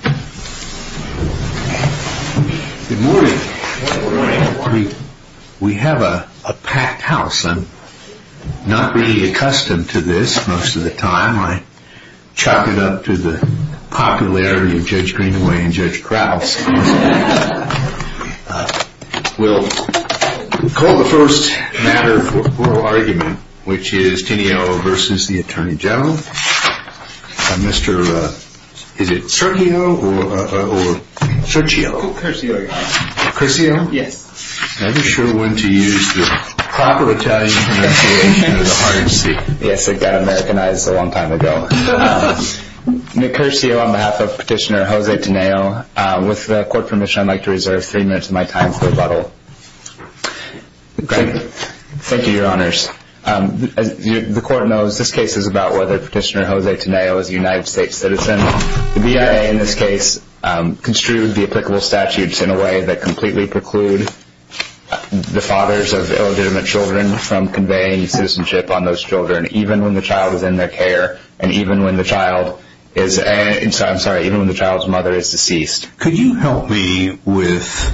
Good morning. We have a packed house. I'm not really accustomed to this most of the time. I chuck it up to the popularity of Judge Greenaway and Judge Krause. We'll call the first matter of oral argument, which is Tineo v. Attorney General. Is it Sergio or Sergio? Curcio. Curcio? Yes. I'm not sure when to use the proper Italian pronunciation of the hard C. Yes, it got Americanized a long time ago. Nick Curcio on behalf of Petitioner Jose Tineo. With court permission, I'd like to reserve three minutes of my time for rebuttal. Thank you, your honors. As the court knows, this case is about whether Petitioner Jose Tineo is a United States citizen. The BIA in this case construed the applicable statutes in a way that completely preclude the fathers of illegitimate children from conveying citizenship on those children, even when the child is in their care and even when the child's mother is deceased. Could you help me with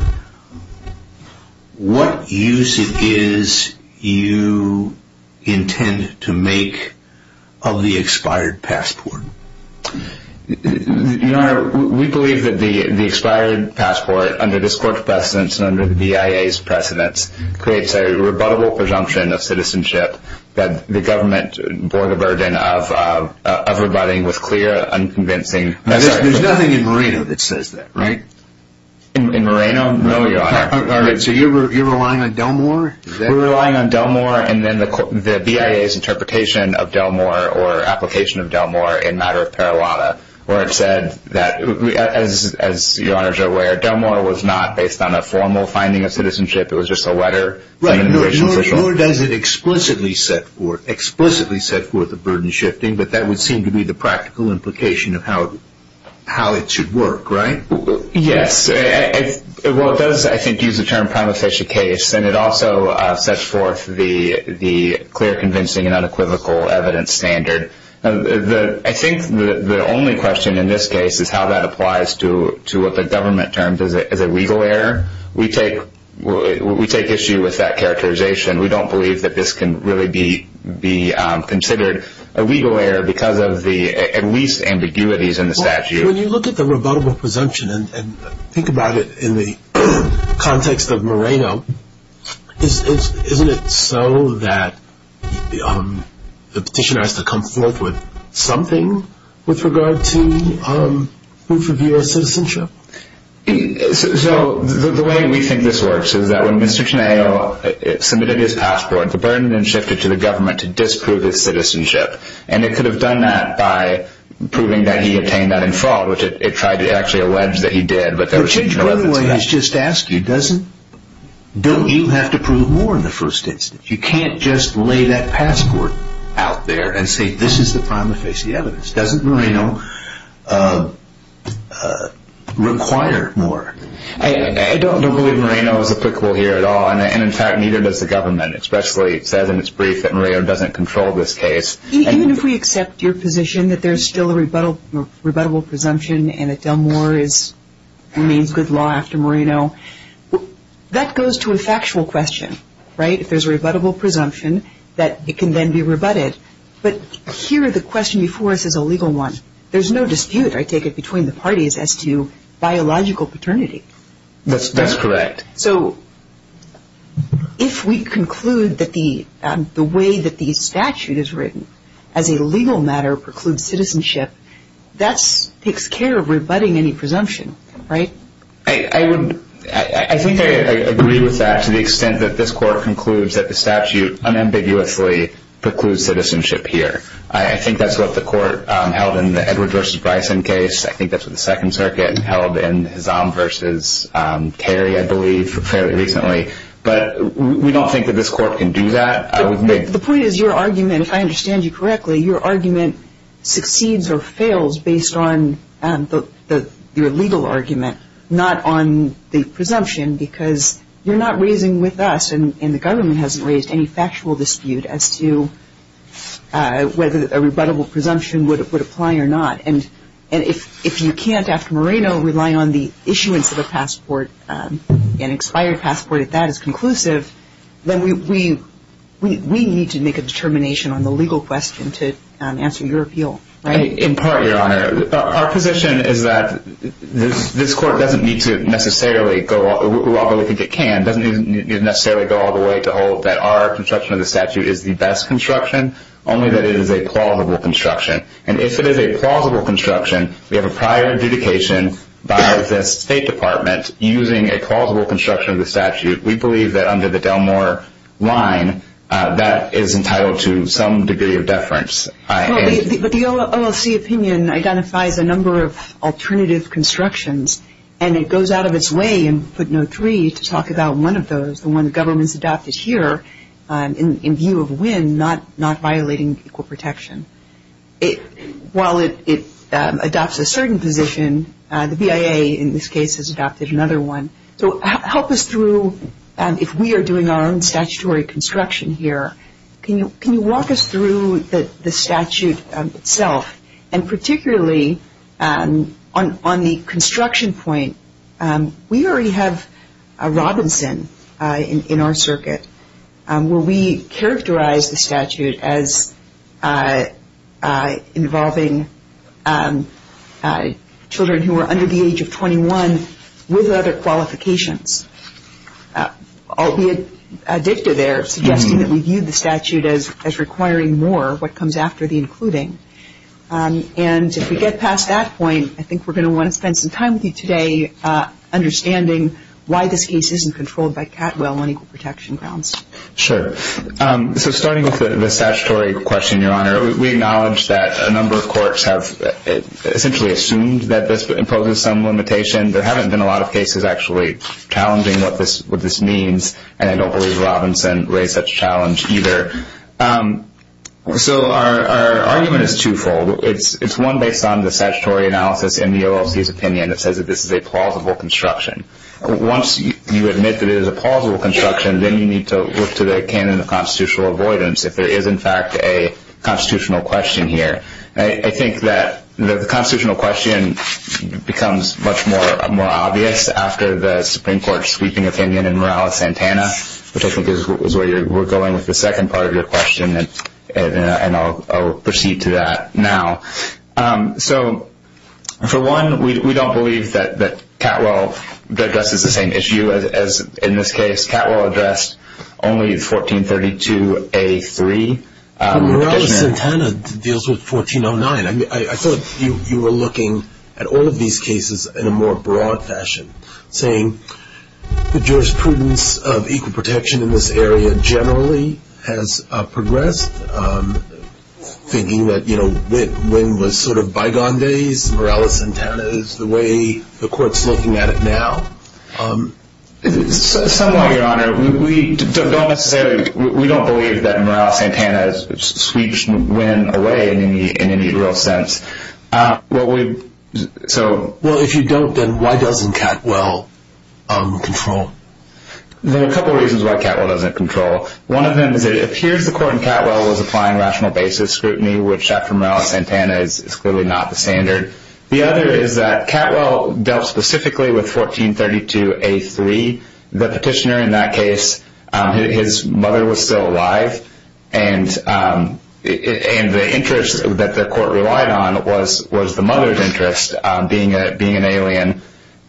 what use it is you intend to make of the expired passport? Your honor, we believe that the expired passport, under this court's precedence and under the BIA's precedence, creates a rebuttable presumption of citizenship that the government bore the burden of rebutting with clear, unconvincing... There's nothing in Moreno that says that, right? In Moreno? No, your honor. All right, so you're relying on Delmore? We're relying on Delmore and then the BIA's interpretation of Delmore or application of Delmore in matter of paralata, where it said that, as your honors are aware, Delmore was not based on a formal finding of citizenship. It was just a letter. Right, nor does it explicitly set forth the burden shifting, but that would seem to be the practical implication of how it should work, right? Yes, well it does, I think, use the term prima facie case and it also sets forth the clear, convincing and unequivocal evidence standard. I think the only question in this case is how that applies to what the government terms as a legal error. We take issue with that characterization. We don't believe that this can really be considered a legal error because of the, at least, ambiguities in the statute. When you look at the rebuttable presumption and think about it in the context of Moreno, isn't it so that the petitioner has to come forth with something with regard to proof of U.S. citizenship? So, the way we think this works is that when Mr. Chenaio submitted his passport, the burden then shifted to the government to disprove his citizenship and it could have done that by proving that he obtained that in fraud, which it tried to actually allege that he did, but there was no evidence of that. I don't believe Moreno is applicable here at all and in fact neither does the government, especially it says in its brief that Moreno doesn't control this case. Even if we accept your position that there's still a rebuttable presumption and that Delmore remains good law after Moreno, that goes to a factual question, right? If there's a rebuttable presumption that it can then be rebutted, but here the question before us is a legal one. There's no dispute, I take it, between the parties as to biological paternity. That's correct. So, if we conclude that the way that the statute is written as a legal matter precludes citizenship, that takes care of rebutting any presumption, right? I think I agree with that to the extent that this Court concludes that the statute unambiguously precludes citizenship here. I think that's what the Court held in the Edward v. Bryson case. I think that's what the Second Circuit held in Hazam v. Carey, I believe, fairly recently. But we don't think that this Court can do that. The point is your argument, if I understand you correctly, your argument succeeds or fails based on your legal argument, not on the presumption, because you're not raising with us, and the government hasn't raised any factual dispute as to whether a rebuttable presumption would apply or not. And if you can't, after Moreno, rely on the issuance of a passport, an expired passport, if that is conclusive, then we need to make a determination on the legal question to answer your appeal, right? In part, Your Honor, our position is that this Court doesn't need to necessarily go all the way to hold that our construction of the statute is the best construction, only that it is a plausible construction. And if it is a plausible construction, we have a prior adjudication by the State Department using a plausible construction of the statute. We believe that under the Delmore line, that is entitled to some degree of deference. But the OLC opinion identifies a number of alternative constructions, and it goes out of its way in footnote three to talk about one of those, the one the government has adopted here in view of Wynne not violating equal protection. While it adopts a certain position, the BIA in this case has adopted another one. So help us through, if we are doing our own statutory construction here, can you walk us through the statute itself? And particularly on the construction point, we already have Robinson in our circuit, where we characterize the statute as involving children who are under the age of 21 with other qualifications. Albeit a dicta there suggesting that we view the statute as requiring more of what comes after the including. And if we get past that point, I think we're going to want to spend some time with you today understanding why this case isn't controlled by Catwell on equal protection grounds. Sure. So starting with the statutory question, Your Honor, we acknowledge that a number of courts have essentially assumed that this imposes some limitation. There haven't been a lot of cases actually challenging what this means, and I don't believe Robinson raised such a challenge either. So our argument is twofold. It's one based on the statutory analysis in the OLC's opinion that says that this is a plausible construction. Once you admit that it is a plausible construction, then you need to look to the canon of constitutional avoidance if there is in fact a constitutional question here. I think that the constitutional question becomes much more obvious after the Supreme Court's sweeping opinion in Morales-Santana, which I think is where we're going with the second part of your question, and I'll proceed to that now. So for one, we don't believe that Catwell addresses the same issue as in this case. Catwell addressed only 1432A3. Morales-Santana deals with 1409. I thought you were looking at all of these cases in a more broad fashion, saying the jurisprudence of equal protection in this area generally has progressed, thinking that, you know, when was sort of bygone days. Morales-Santana is the way the Court's looking at it now. Somewhat, Your Honor. We don't necessarily, we don't believe that Morales-Santana sweeps Nguyen away in any real sense. Well, if you don't, then why doesn't Catwell control? There are a couple of reasons why Catwell doesn't control. One of them is it appears the Court in Catwell was applying rational basis scrutiny, which after Morales-Santana is clearly not the standard. The other is that Catwell dealt specifically with 1432A3. The petitioner in that case, his mother was still alive, and the interest that the Court relied on was the mother's interest, being an alien,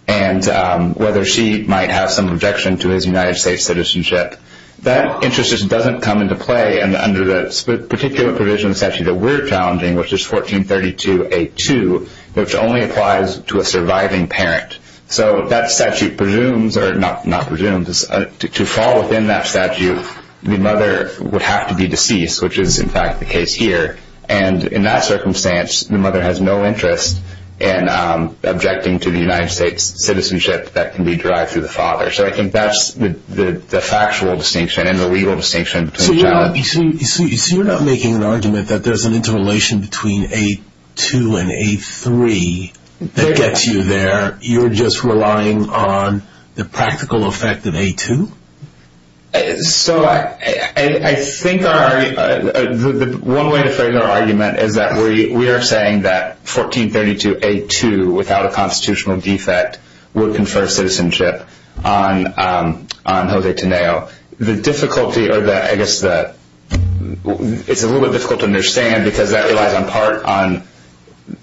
and whether she might have some objection to his United States citizenship. That interest just doesn't come into play under the particular provision of the statute that we're challenging, which is 1432A2, which only applies to a surviving parent. So that statute presumes, or not presumes, to fall within that statute, the mother would have to be deceased, which is in fact the case here. And in that circumstance, the mother has no interest in objecting to the United States citizenship that can be derived through the father. So I think that's the factual distinction and the legal distinction. So you're not making an argument that there's an interrelation between A2 and A3 that gets you there. You're just relying on the practical effect of A2? So I think the one way to frame our argument is that we are saying that 1432A2, without a constitutional defect, would confer citizenship on José Teneo. The difficulty, or I guess it's a little bit difficult to understand, because that relies in part on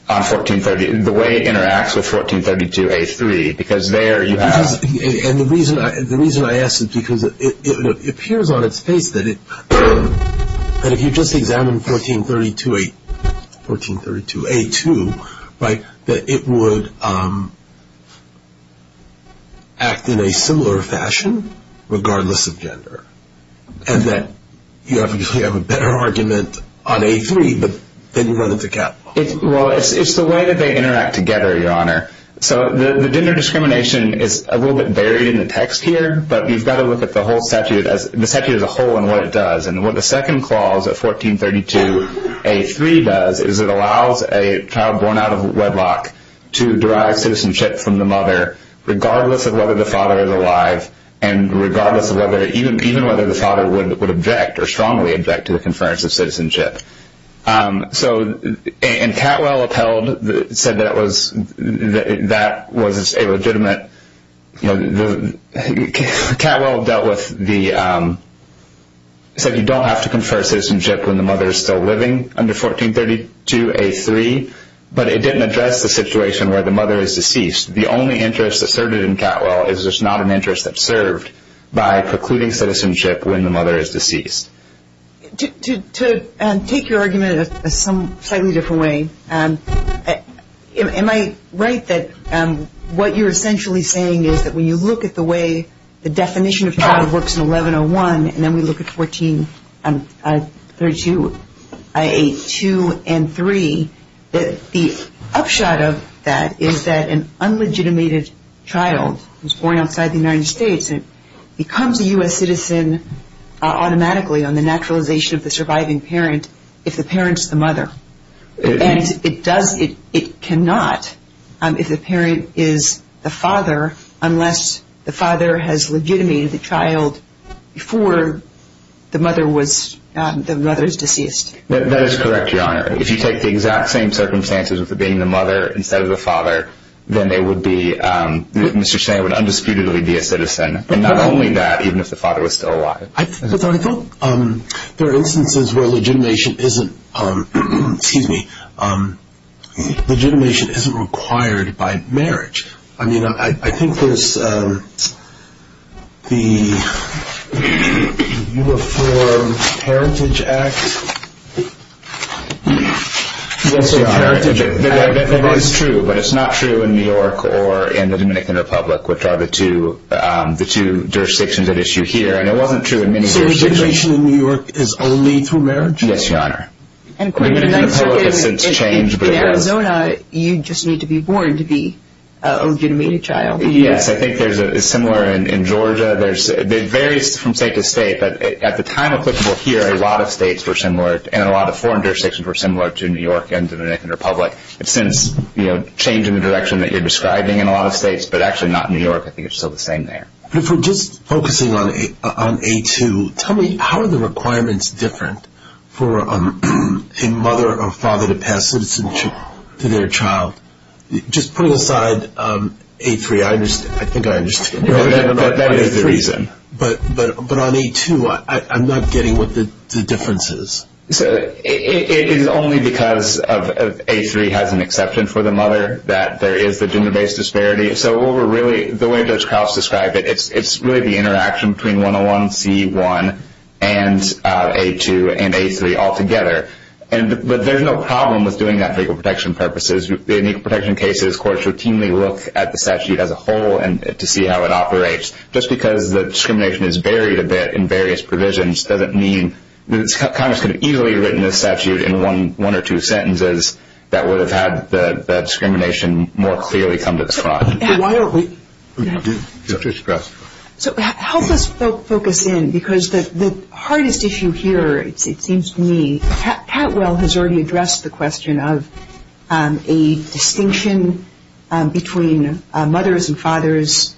the way it interacts with 1432A3. Because there you have it. And the reason I ask is because it appears on its face that if you just examine 1432A2, that it would act in a similar fashion regardless of gender. And that you have a better argument on A3, but then you run into capital. Well, it's the way that they interact together, Your Honor. So the gender discrimination is a little bit buried in the text here, but you've got to look at the statute as a whole and what it does. And what the second clause of 1432A3 does is it allows a child born out of wedlock to derive citizenship from the mother, regardless of whether the father is alive, and even whether the father would object or strongly object to the conference of citizenship. So, and Catwell upheld, said that was a legitimate, you know, Catwell dealt with the, said you don't have to confer citizenship when the mother is still living under 1432A3, but it didn't address the situation where the mother is deceased. The only interest asserted in Catwell is there's not an interest that's served by precluding citizenship when the mother is deceased. To take your argument in some slightly different way, am I right that what you're essentially saying is that when you look at the way the definition of child works in 1101, and then we look at 1432A2 and 3, that the upshot of that is that an unlegitimated child who's born outside the United States becomes a U.S. citizen automatically on the naturalization of the surviving parent if the parent's the mother. And it does, it cannot if the parent is the father unless the father has legitimated the child before the mother was, the mother's deceased. That is correct, Your Honor. If you take the exact same circumstances with it being the mother instead of the father, then they would be, Mr. Schneier would undisputedly be a citizen. And not only that, even if the father was still alive. But I think there are instances where legitimation isn't, excuse me, legitimation isn't required by marriage. I mean, I think there's the Uniform Heritage Act. Yes, Your Honor. That is true, but it's not true in New York or in the Dominican Republic, which are the two jurisdictions at issue here. And it wasn't true in many jurisdictions. So, legitimation in New York is only through marriage? Yes, Your Honor. In Arizona, you just need to be born to be a legitimate child. Yes, I think there's a similar in Georgia. It varies from state to state. But at the time applicable here, a lot of states were similar and a lot of foreign jurisdictions were similar to New York and the Dominican Republic. It's since changed in the direction that you're describing in a lot of states, but actually not in New York. I think it's still the same there. If we're just focusing on A2, tell me, how are the requirements different for a mother or father to pass citizenship to their child? Just putting aside A3, I think I understand. That is the reason. But on A2, I'm not getting what the difference is. It is only because A3 has an exception for the mother that there is the gender-based disparity. So, the way Judge Krauss described it, it's really the interaction between 101C1 and A2 and A3 altogether. But there's no problem with doing that for legal protection purposes. In legal protection cases, courts routinely look at the statute as a whole to see how it operates. Just because the discrimination is buried a bit in various provisions, doesn't mean Congress could have easily written a statute in one or two sentences that would have had the discrimination more clearly come to the spot. Help us focus in, because the hardest issue here, it seems to me, Patwell has already addressed the question of a distinction between mothers and fathers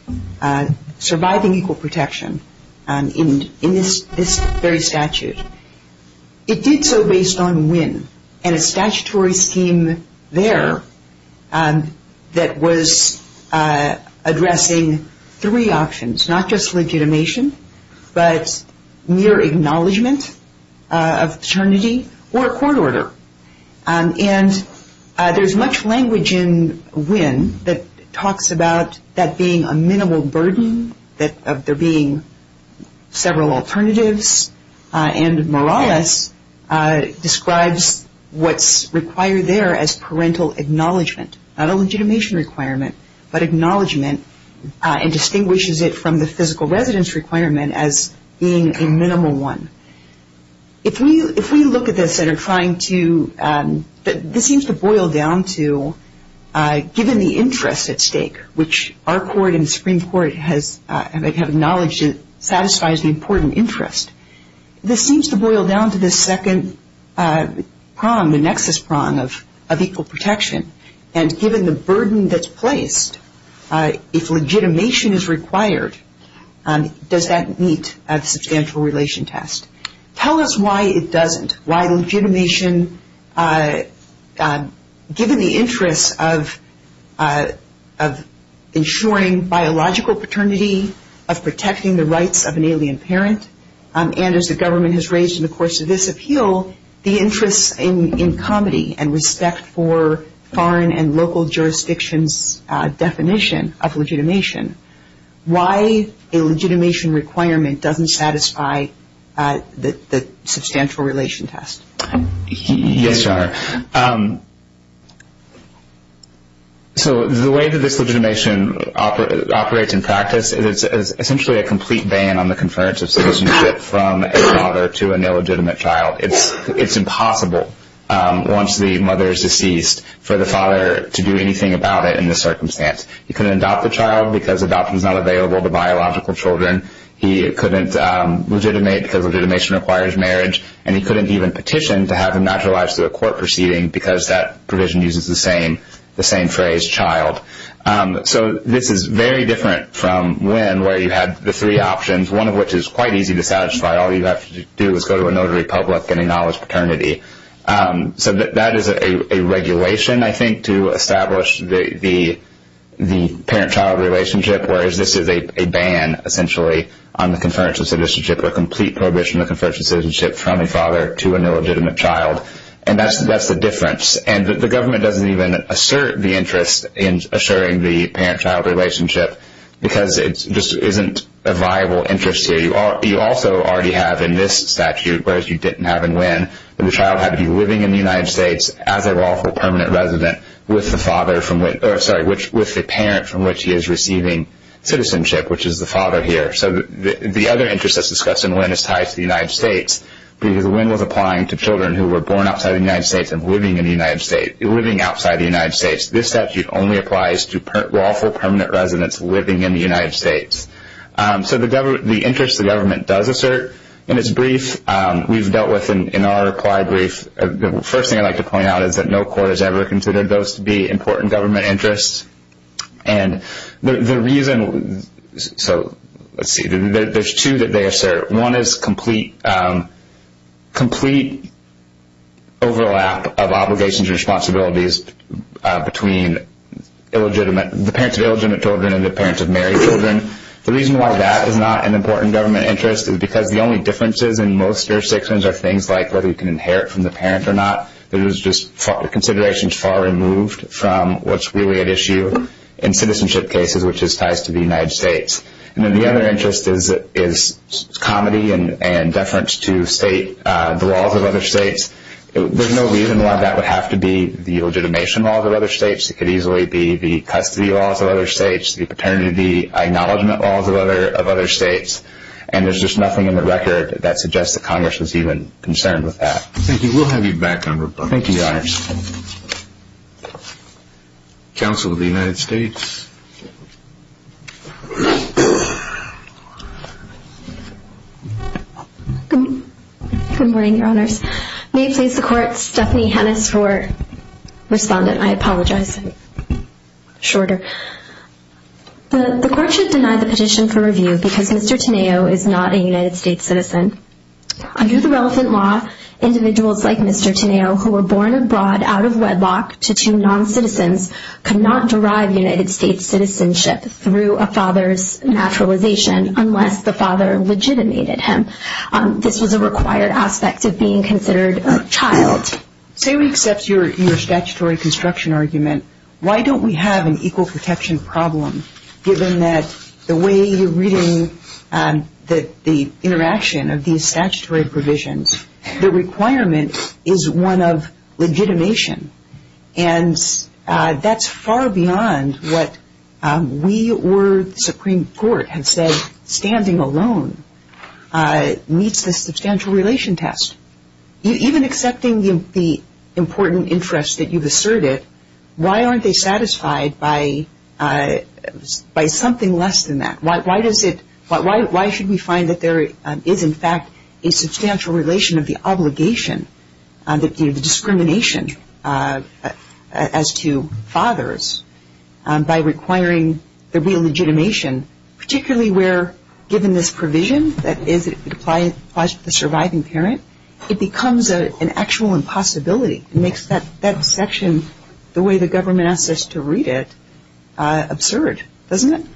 surviving equal protection in this very statute. It did so based on WIN and a statutory scheme there that was addressing three options, not just legitimation, but mere acknowledgment of paternity or a court order. And there's much language in WIN that talks about that being a minimal burden, that there being several alternatives. And Morales describes what's required there as parental acknowledgment, not a legitimation requirement, but acknowledgment, and distinguishes it from the physical residence requirement as being a minimal one. If we look at this and are trying to, this seems to boil down to given the interest at stake, which our court and the Supreme Court have acknowledged satisfies the important interest, this seems to boil down to this second prong, the nexus prong of equal protection. And given the burden that's placed, if legitimation is required, does that meet a substantial relation test? Tell us why it doesn't. Why legitimation, given the interest of ensuring biological paternity, of protecting the rights of an alien parent, and as the government has raised in the course of this appeal, the interest in comedy and respect for foreign and local jurisdictions' definition of legitimation, why a legitimation requirement doesn't satisfy the substantial relation test. Yes, Your Honor. So the way that this legitimation operates in practice is essentially a complete ban on the conference of citizenship from a father to an illegitimate child. It's impossible once the mother is deceased for the father to do anything about it in this circumstance. He couldn't adopt the child because adoption is not available to biological children. He couldn't legitimate because legitimation requires marriage, and he couldn't even petition to have him naturalized to a court proceeding because that provision uses the same phrase, child. So this is very different from when where you had the three options, one of which is quite easy to satisfy. All you have to do is go to a notary public and acknowledge paternity. So that is a regulation, I think, to establish the parent-child relationship, whereas this is a ban, essentially, on the conference of citizenship, a complete prohibition of the conference of citizenship from a father to an illegitimate child. And that's the difference. And the government doesn't even assert the interest in assuring the parent-child relationship because it just isn't a viable interest here. You also already have in this statute, whereas you didn't have in Wynne, that the child had to be living in the United States as a lawful permanent resident with the parent from which he is receiving citizenship, which is the father here. So the other interest that's discussed in Wynne is tied to the United States because Wynne was applying to children who were born outside the United States and living outside the United States. This statute only applies to lawful permanent residents living in the United States. So the interest the government does assert in its brief, we've dealt with in our applied brief. The first thing I'd like to point out is that no court has ever considered those to be important government interests. And the reason, so let's see, there's two that they assert. One is complete overlap of obligations and responsibilities between the parents of illegitimate children and the parents of married children. The reason why that is not an important government interest is because the only differences in most jurisdictions are things like whether you can inherit from the parent or not. It was just considerations far removed from what's really at issue in citizenship cases, which is ties to the United States. And then the other interest is comedy and deference to the laws of other states. There's no reason why that would have to be the legitimation laws of other states. It could easily be the custody laws of other states, the paternity acknowledgment laws of other states, and there's just nothing in the record that suggests that Congress was even concerned with that. Thank you. Thank you, Your Honors. Counsel of the United States. Good morning, Your Honors. May it please the Court, Stephanie Hennis for respondent. I apologize. Shorter. The Court should deny the petition for review because Mr. Teneo is not a United States citizen. Under the relevant law, individuals like Mr. Teneo who were born abroad out of wedlock to two non-citizens could not derive United States citizenship through a father's naturalization unless the father legitimated him. This was a required aspect of being considered a child. Say we accept your statutory construction argument, why don't we have an equal protection problem given that the way you're reading the interaction of these statutory provisions, the requirement is one of legitimation. And that's far beyond what we or the Supreme Court have said standing alone meets the substantial relation test. Even accepting the important interest that you've asserted, why aren't they satisfied by something less than that? Why should we find that there is in fact a substantial relation of the obligation, the discrimination as to fathers by requiring the real legitimation, particularly where given this provision that applies to the surviving parent, it becomes an actual impossibility and makes that section, the way the government asks us to read it, absurd, doesn't it?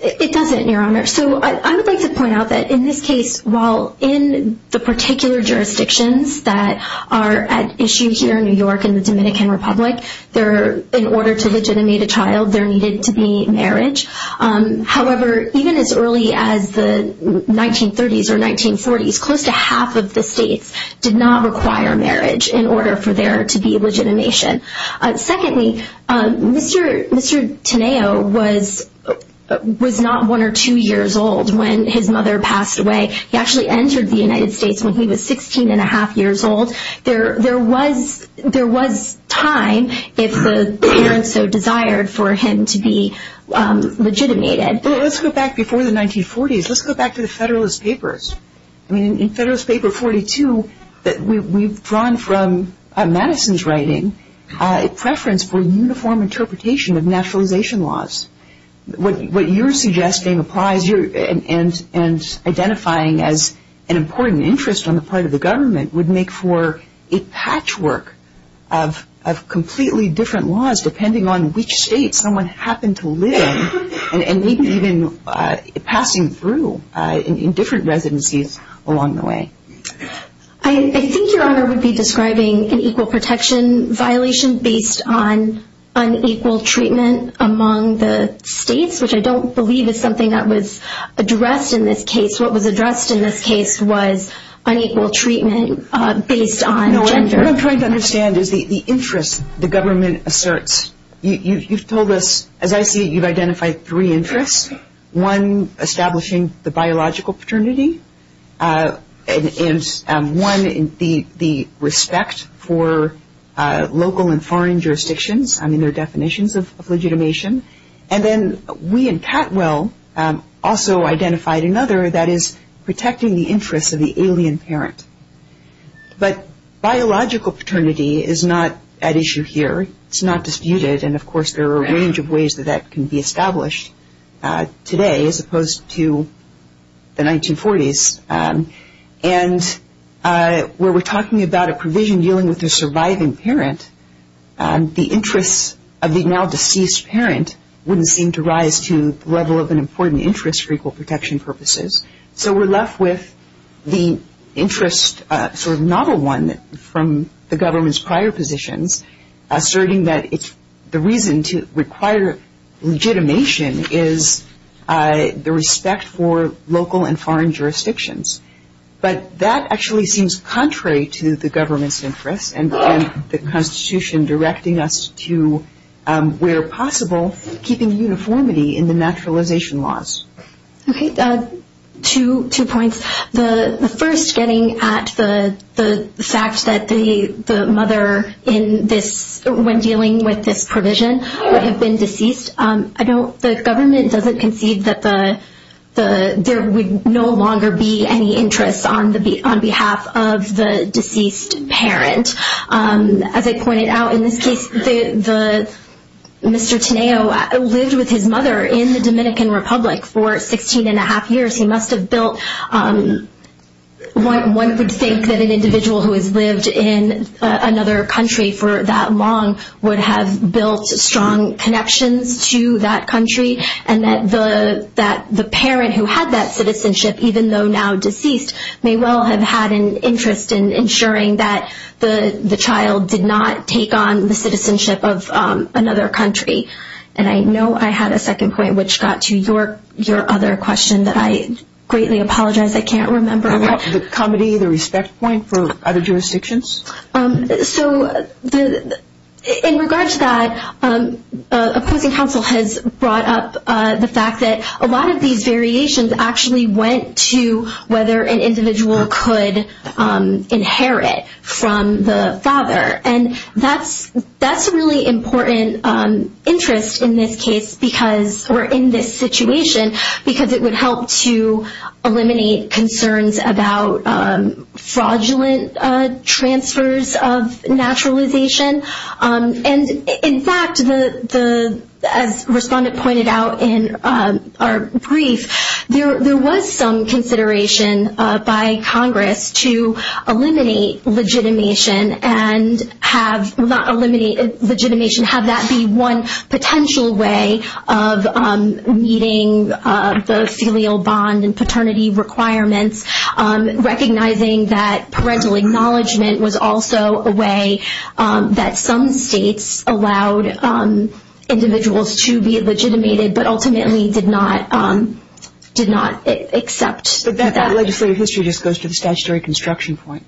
It doesn't, Your Honor. So I would like to point out that in this case, while in the particular jurisdictions that are at issue here in New York and the Dominican Republic, in order to legitimate a child, there needed to be marriage. However, even as early as the 1930s or 1940s, close to half of the states did not require marriage in order for there to be legitimation. Secondly, Mr. Teneo was not one or two years old when his mother passed away. He actually entered the United States when he was 16 and a half years old. There was time if the parents so desired for him to be legitimated. Well, let's go back before the 1940s. Let's go back to the Federalist Papers. I mean, in Federalist Paper 42, we've drawn from Madison's writing a preference for uniform interpretation of naturalization laws. What you're suggesting applies and identifying as an important interest on the part of the government would make for a patchwork of I think Your Honor would be describing an equal protection violation based on unequal treatment among the states, which I don't believe is something that was addressed in this case. What was addressed in this case was unequal treatment based on gender. No, what I'm trying to understand is the interest the government asserts. You've told us, as I see it, you've identified three interests. One, establishing the biological paternity. And one, the respect for local and foreign jurisdictions, I mean, their definitions of legitimation. And then we in Catwell also identified another, that is, protecting the interests of the alien parent. But biological paternity is not at issue here. It's not disputed. And, of course, there are a range of ways that that can be established today as opposed to the 1940s. And where we're talking about a provision dealing with a surviving parent, the interests of the now deceased parent wouldn't seem to rise to the level of an important interest for equal protection purposes. So we're left with the interest, sort of novel one, from the government's prior positions, asserting that the reason to require legitimation is the respect for local and foreign jurisdictions. But that actually seems contrary to the government's interests and the Constitution directing us to, where possible, keeping uniformity in the naturalization laws. Okay, two points. The first, getting at the fact that the mother in this, when dealing with this provision, would have been deceased. I know the government doesn't concede that there would no longer be any interest on behalf of the deceased parent. As I pointed out, in this case, Mr. Teneo lived with his mother in the Dominican Republic for 16 and a half years. He must have built, one would think that an individual who has lived in another country for that long would have built strong connections to that country. And that the parent who had that citizenship, even though now deceased, may well have had an interest in ensuring that the child did not take on the citizenship of another country. And I know I had a second point, which got to your other question that I greatly apologize I can't remember. The comedy, the respect point for other jurisdictions? So in regard to that, opposing counsel has brought up the fact that a lot of these variations actually went to whether an individual could inherit from the father. And that's a really important interest in this case because, or in this situation, because it would help to eliminate concerns about fraudulent transfers of naturalization. And in fact, as Respondent pointed out in our brief, there was some consideration by Congress to eliminate legitimation and have that be one potential way of meeting the filial bond and paternity requirements, recognizing that parental acknowledgement was also a way that some states allowed individuals to be legitimated, but ultimately did not accept that. But that legislative history just goes to the statutory construction point.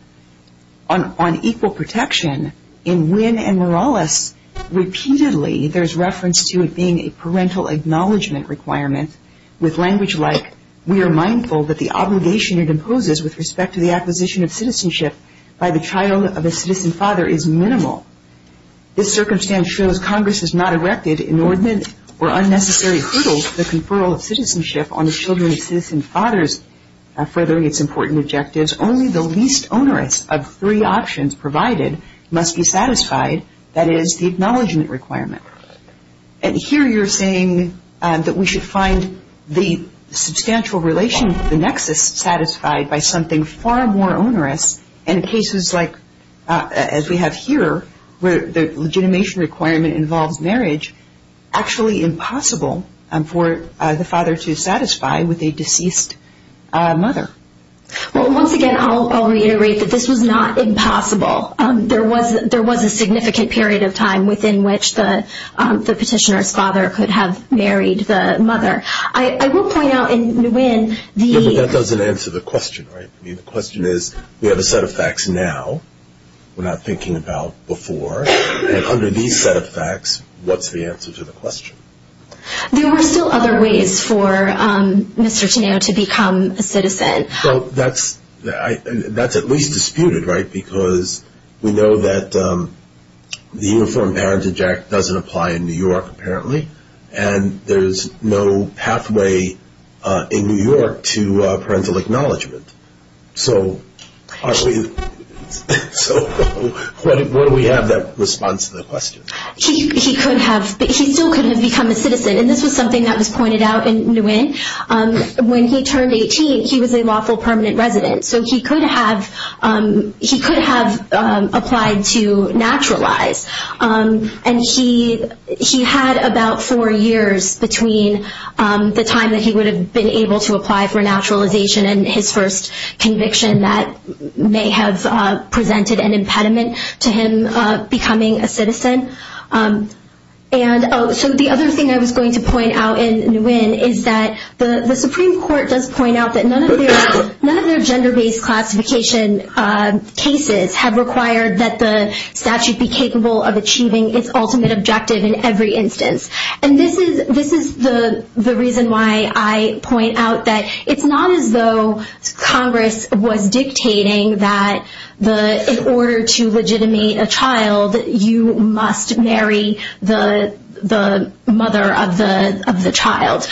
On equal protection, in Wynne and Morales, repeatedly there's reference to it being a parental acknowledgement requirement with language like, we are mindful that the obligation it imposes with respect to the acquisition of citizenship by the child of a citizen father is minimal. This circumstance shows Congress has not erected inordinate or unnecessary hurdles to the conferral of citizenship on the children of citizen fathers, furthering its important objectives. Only the least onerous of three options provided must be satisfied, that is, the acknowledgement requirement. And here you're saying that we should find the substantial relation, the nexus satisfied by something far more onerous, and in cases like as we have here, where the legitimation requirement involves marriage, actually impossible for the father to satisfy with a deceased mother. Well, once again, I'll reiterate that this was not impossible. There was a significant period of time within which the petitioner's father could have married the mother. I will point out in Wynne the... Yeah, but that doesn't answer the question, right? I mean, the question is, we have a set of facts now we're not thinking about before, and under these set of facts, what's the answer to the question? There were still other ways for Mr. Tineo to become a citizen. Well, that's at least disputed, right? Because we know that the Uniform Parentage Act doesn't apply in New York, apparently, and there's no pathway in New York to parental acknowledgement. So what do we have that responds to the question? He still couldn't have become a citizen, and this was something that was pointed out in Wynne. When he turned 18, he was a lawful permanent resident, so he could have applied to naturalize, and he had about four years between the time that he would have been able to apply for naturalization and his first conviction that may have presented an impediment to him becoming a citizen. So the other thing I was going to point out in Wynne is that the Supreme Court does point out that none of their gender-based classification cases have required that the statute be capable of achieving its ultimate objective in every instance. And this is the reason why I point out that it's not as though Congress was dictating that in order to legitimate a child, you must marry the mother of the child.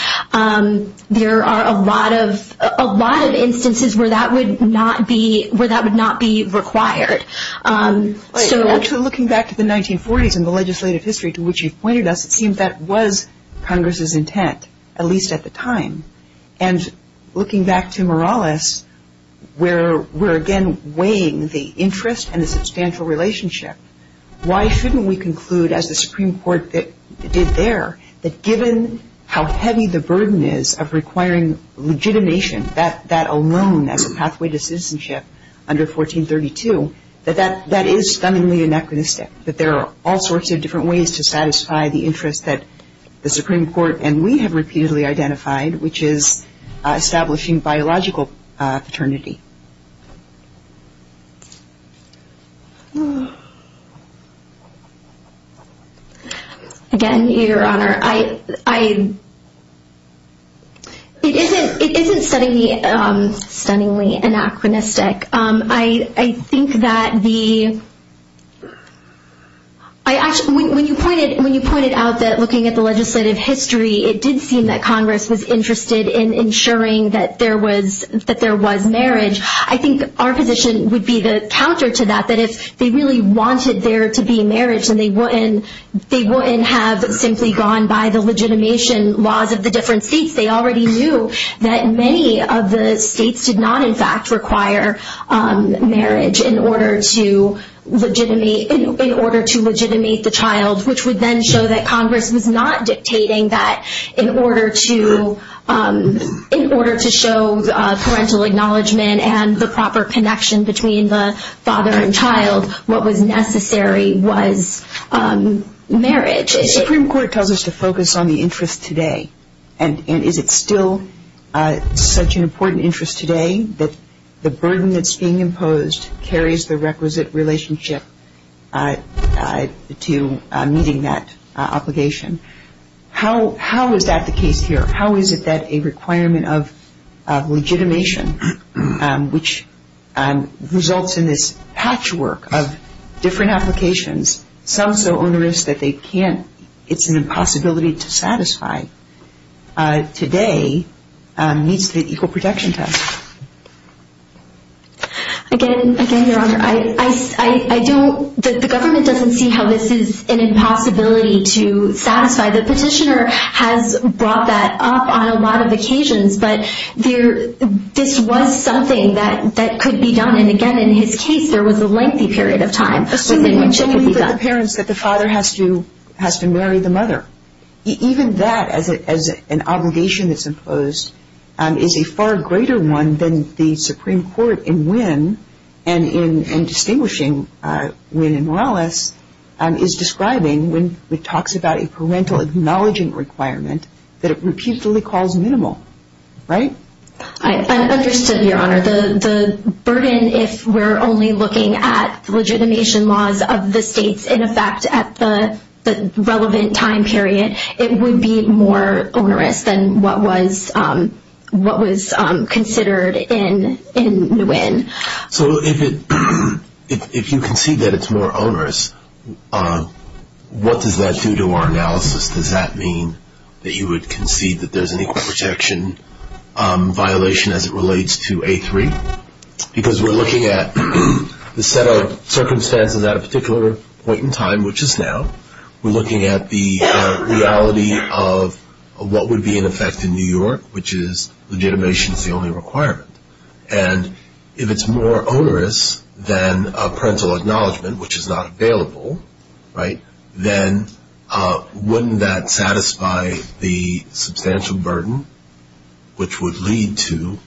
There are a lot of instances where that would not be required. Looking back to the 1940s and the legislative history to which you've pointed us, it seems that was Congress's intent, at least at the time. And looking back to Morales, where we're again weighing the interest and the substantial relationship, why shouldn't we conclude, as the Supreme Court did there, that given how heavy the burden is of requiring legitimation, that alone as a pathway to citizenship under 1432, that that is stunningly anachronistic, that there are all sorts of different ways to satisfy the interest that the Supreme Court and we have repeatedly identified, which is establishing biological paternity. Again, Your Honor, it isn't stunningly anachronistic. I think that when you pointed out that looking at the legislative history, it did seem that Congress was interested in ensuring that there was marriage. I think our position would be the counter to that, that if they really wanted there to be marriage and they wouldn't have simply gone by the legitimation laws of the different states, they already knew that many of the states did not in fact require marriage in order to legitimate the child, which would then show that Congress was not dictating that in order to show parental acknowledgement and the proper connection between the father and child, what was necessary was marriage. The Supreme Court tells us to focus on the interest today. And is it still such an important interest today that the burden that's being imposed carries the requisite relationship to meeting that obligation? How is that the case here? How is it that a requirement of legitimation, which results in this patchwork of different applications, some so onerous that it's an impossibility to satisfy, today meets the equal protection test? Again, Your Honor, the government doesn't see how this is an impossibility to satisfy. The petitioner has brought that up on a lot of occasions, but this was something that could be done. And again, in his case, there was a lengthy period of time. Assuming that the parents that the father has to marry the mother. Even that as an obligation that's imposed is a far greater one than the Supreme Court in Wynne and in distinguishing Wynne and Morales is describing when it talks about a parental acknowledging requirement that it reputedly calls minimal, right? I understood, Your Honor. The burden, if we're only looking at the legitimation laws of the states in effect at the relevant time period, it would be more onerous than what was considered in Wynne. So if you concede that it's more onerous, what does that do to our analysis? Does that mean that you would concede that there's an equal protection violation as it relates to A3? Because we're looking at the set of circumstances at a particular point in time, which is now. We're looking at the reality of what would be in effect in New York, which is legitimation is the only requirement. And if it's more onerous than a parental acknowledgement, which is not available, right, then wouldn't that satisfy the substantial burden, which would lead to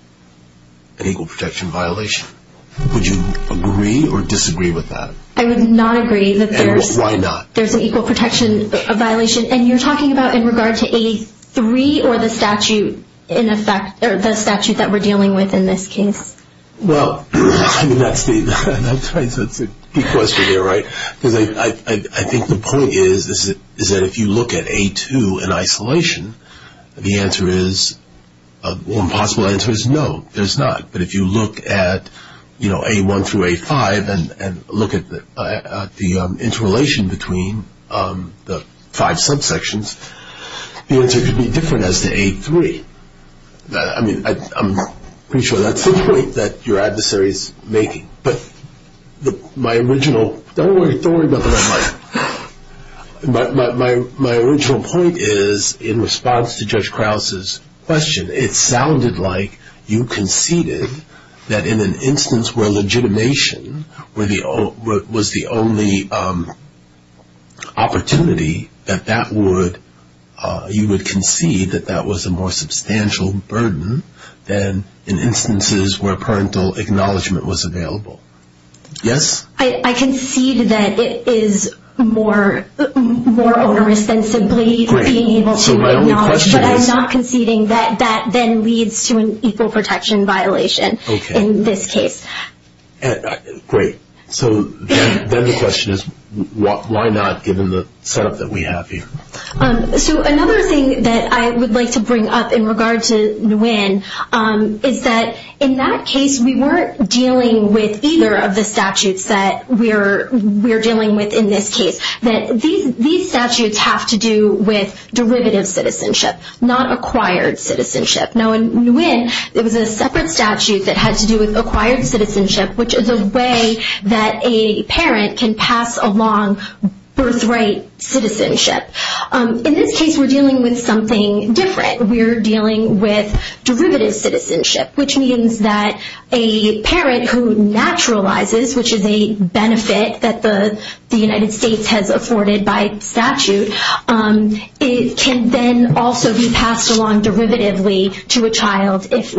an equal protection violation? Would you agree or disagree with that? I would not agree that there's an equal protection violation. And you're talking about in regard to A3 or the statute that we're dealing with in this case? Well, I mean, that's the key question here, right? Because I think the point is that if you look at A2 in isolation, the answer is, the impossible answer is no, there's not. But if you look at, you know, A1 through A5 and look at the interrelation between the five subsections, the answer could be different as to A3. I mean, I'm pretty sure that's the point that your adversary is making. But my original ‑‑ don't worry about what I'm like. My original point is in response to Judge Krause's question, it sounded like you conceded that in an instance where legitimation was the only opportunity, that you would concede that that was a more substantial burden than in instances where parental acknowledgement was available. Yes? I concede that it is more onerous than simply being able to acknowledge. But I'm not conceding that that then leads to an equal protection violation in this case. Great. So then the question is, why not, given the setup that we have here? So another thing that I would like to bring up in regard to Nguyen is that in that case, we weren't dealing with either of the statutes that we're dealing with in this case. These statutes have to do with derivative citizenship, not acquired citizenship. Now, in Nguyen, it was a separate statute that had to do with acquired citizenship, which is a way that a parent can pass along birthright citizenship. In this case, we're dealing with something different. We're dealing with derivative citizenship, which means that a parent who naturalizes, which is a benefit that the United States has afforded by statute, can then also be passed along derivatively to a child if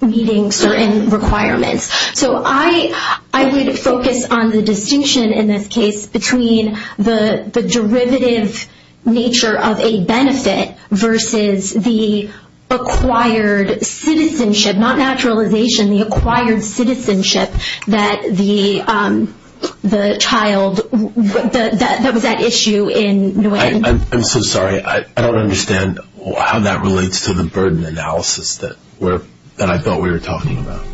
meeting certain requirements. So I would focus on the distinction in this case between the derivative nature of a benefit versus the acquired citizenship, not naturalization, the acquired citizenship that was at issue in Nguyen. I'm so sorry. I don't understand how that relates to the burden analysis that I thought we were talking about.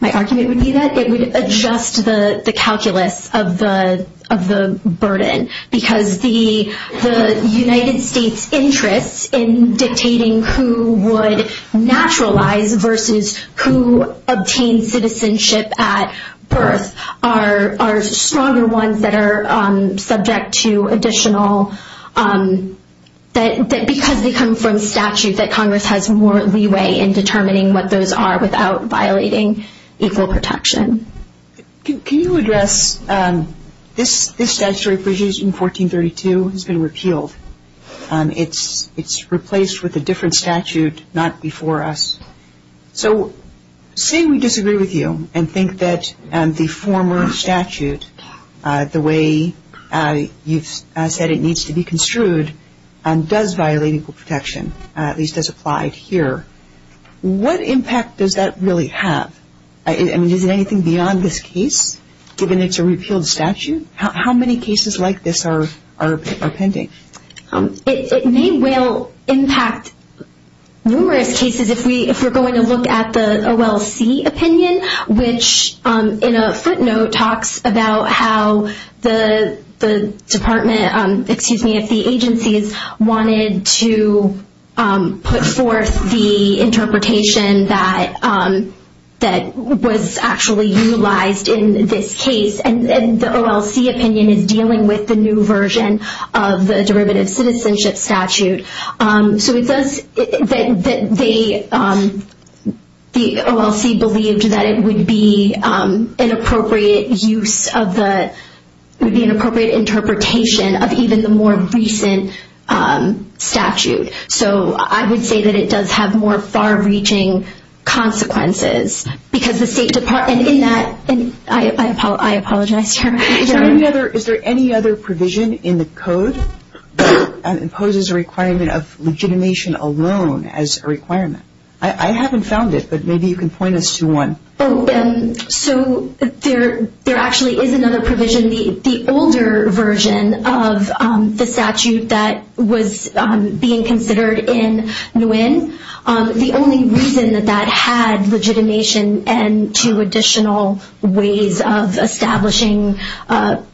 My argument would be that it would adjust the calculus of the burden because the United States' interests in dictating who would naturalize versus who obtained citizenship at birth are stronger ones that are subject to additional because they come from statute that Congress has more leeway in determining what those are without violating equal protection. Can you address this statutory provision, 1432, has been repealed. It's replaced with a different statute, not before us. So say we disagree with you and think that the former statute, the way you've said it needs to be construed, does violate equal protection, at least as applied here. What impact does that really have? I mean, is it anything beyond this case, given it's a repealed statute? How many cases like this are pending? It may well impact numerous cases if we're going to look at the OLC opinion, which in a footnote talks about how the department, excuse me, if the agencies wanted to put forth the interpretation that was actually utilized in this case, and the OLC opinion is dealing with the new version of the derivative citizenship statute. So it says that the OLC believed that it would be an appropriate use of the, it would be an appropriate interpretation of even the more recent statute. So I would say that it does have more far-reaching consequences because the State Department in that, and I apologize, Tara. Is there any other provision in the code that imposes a requirement of legitimation alone as a requirement? I haven't found it, but maybe you can point us to one. So there actually is another provision, the older version of the statute that was being considered in Nguyen. The only reason that that had legitimation and two additional ways of establishing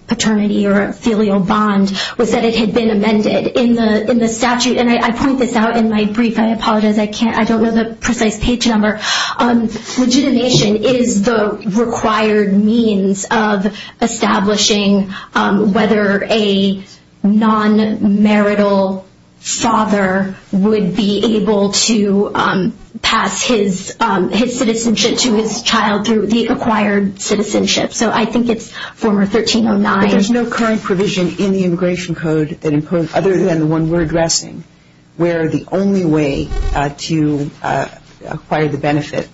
paternity or filial bond was that it had been amended in the statute. And I point this out in my brief. I apologize, I don't know the precise page number. Legitimation is the required means of establishing whether a non-marital father would be able to pass his citizenship to his child through the acquired citizenship. So I think it's former 1309. But there's no current provision in the immigration code other than the one we're addressing where the only way to acquire the benefit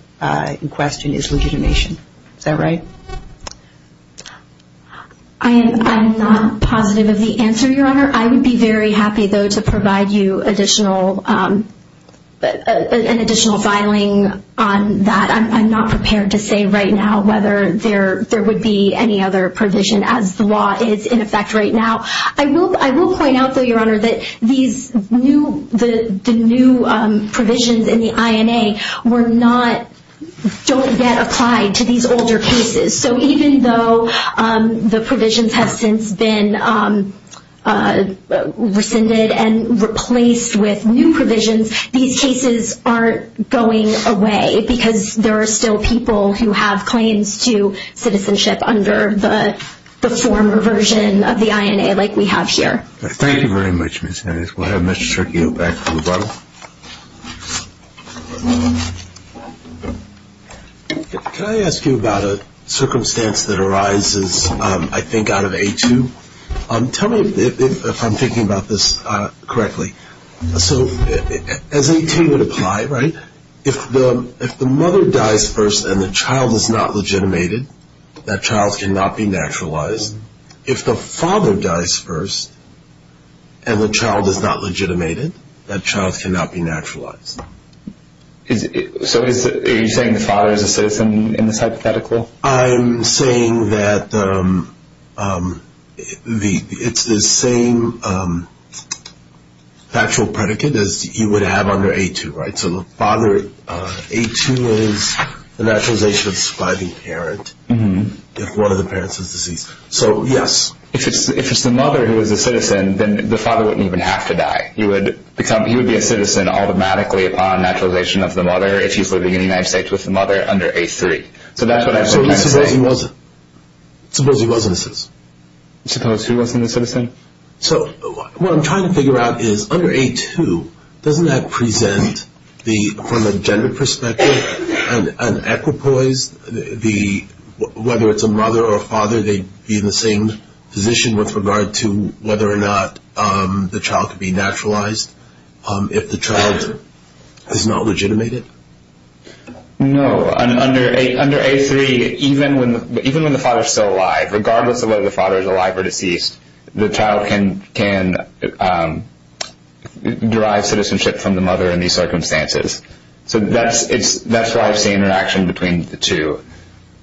in question is legitimation. Is that right? I am not positive of the answer, Your Honor. I would be very happy, though, to provide you an additional filing on that. I'm not prepared to say right now whether there would be any other provision as the law is in effect right now. I will point out, though, Your Honor, that the new provisions in the INA don't yet apply to these older cases. So even though the provisions have since been rescinded and replaced with new provisions, these cases aren't going away because there are still people who have claims to citizenship under the former version of the INA like we have here. Thank you very much, Ms. Hennessey. We'll have Mr. Circhio back for rebuttal. Can I ask you about a circumstance that arises, I think, out of A2? Tell me if I'm thinking about this correctly. So as you would imply, right, if the mother dies first and the child is not legitimated, that child cannot be naturalized. If the father dies first and the child is not legitimated, that child cannot be naturalized. So are you saying the father is a citizen in this hypothetical? I'm saying that it's the same factual predicate as you would have under A2, right? So the father, A2 is the naturalization by the parent if one of the parents is deceased. So, yes. If it's the mother who is a citizen, then the father wouldn't even have to die. He would be a citizen automatically upon naturalization of the mother if he's living in the United States with the mother under A3. So that's what I'm trying to say. Suppose he wasn't a citizen? So what I'm trying to figure out is, under A2, doesn't that present, from a gender perspective, an equipoise, whether it's a mother or a father, they'd be in the same position with regard to whether or not the child could be naturalized if the child is not legitimated? No. Under A3, even when the father is still alive, regardless of whether the father is alive or deceased, the child can derive citizenship from the mother in these circumstances. So that's why I see interaction between the two.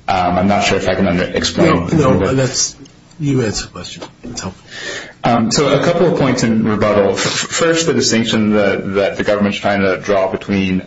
I'm not sure if I can explain. No, you answer the question. So a couple of points in rebuttal. First, the distinction that the government is trying to draw between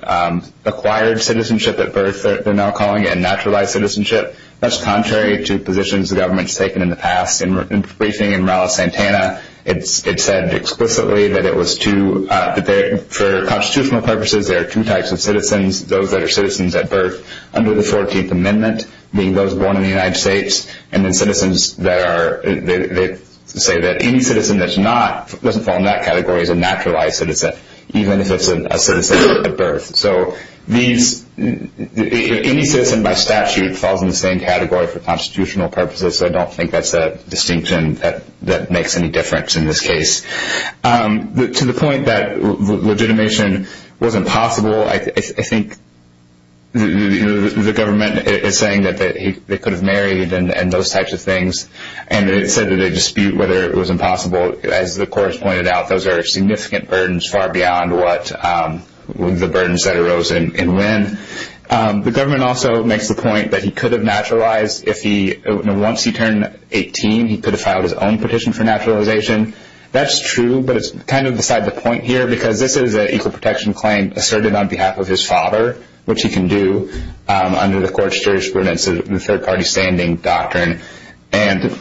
acquired citizenship at birth, they're now calling it, and naturalized citizenship, that's contrary to positions the government's taken in the past. In a briefing in Raleigh-Santana, it said explicitly that for constitutional purposes, there are two types of citizens, those that are citizens at birth under the 14th Amendment, being those born in the United States, and then citizens that say that any citizen that doesn't fall in that category is a naturalized citizen, even if it's a citizen at birth. So any citizen by statute falls in the same category for constitutional purposes, so I don't think that's a distinction that makes any difference in this case. To the point that legitimation wasn't possible, I think the government is saying that they could have married and those types of things, and it said that they dispute whether it was impossible. As the court has pointed out, those are significant burdens far beyond the burdens that arose in Lynn. The government also makes the point that he could have naturalized. Once he turned 18, he could have filed his own petition for naturalization. That's true, but it's kind of beside the point here, because this is an equal protection claim asserted on behalf of his father, which he can do under the court's jurisprudence of the third-party standing doctrine. So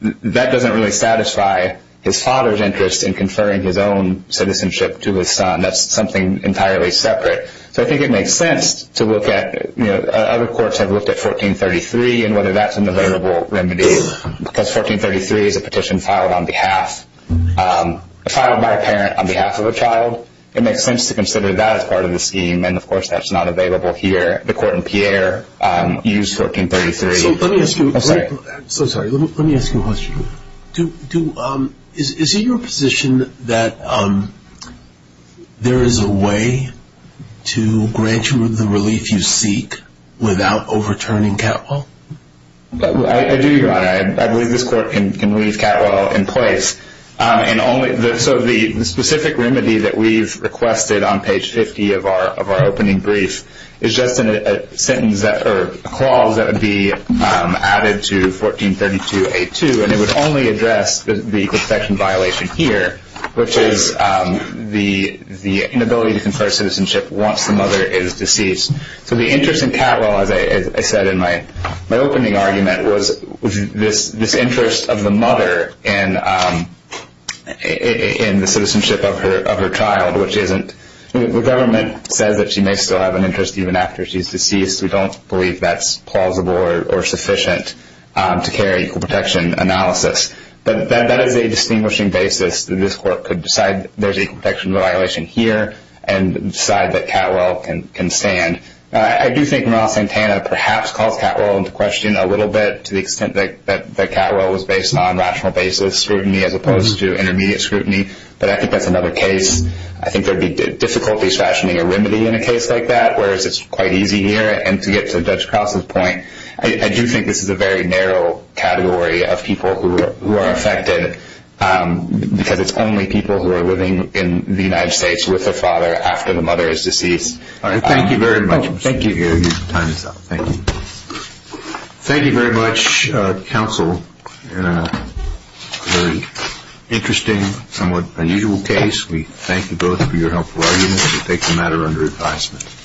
that doesn't really satisfy his father's interest in conferring his own citizenship to his son. That's something entirely separate. So I think it makes sense to look at other courts have looked at 1433 and whether that's an available remedy, because 1433 is a petition filed by a parent on behalf of a child. It makes sense to consider that as part of the scheme, and of course that's not available here. The court in Pierre used 1433. Let me ask you a question. Is it your position that there is a way to grant you the relief you seek without overturning Catwell? I do, Your Honor. I believe this court can leave Catwell in place. So the specific remedy that we've requested on page 50 of our opening brief is just a clause that would be added to 1432A2, and it would only address the equal protection violation here, which is the inability to confer citizenship once the mother is deceased. So the interest in Catwell, as I said in my opening argument, was this interest of the mother in the citizenship of her child, which the government says that she may still have an interest even after she's deceased. We don't believe that's plausible or sufficient to carry equal protection analysis. But that is a distinguishing basis that this court could decide there's an equal protection violation here and decide that Catwell can stand. I do think Ron Santana perhaps calls Catwell into question a little bit to the extent that Catwell was based on rational basis scrutiny as opposed to intermediate scrutiny, but I think that's another case. I think there would be difficulties fashioning a remedy in a case like that, whereas it's quite easy here. And to get to Judge Krause's point, I do think this is a very narrow category of people who are affected because it's only people who are living in the United States with a father after the mother is deceased. Thank you very much. Thank you. Your time is up. Thank you. Thank you very much, counsel, in a very interesting, somewhat unusual case. We thank you both for your helpful arguments. We take the matter under advisement.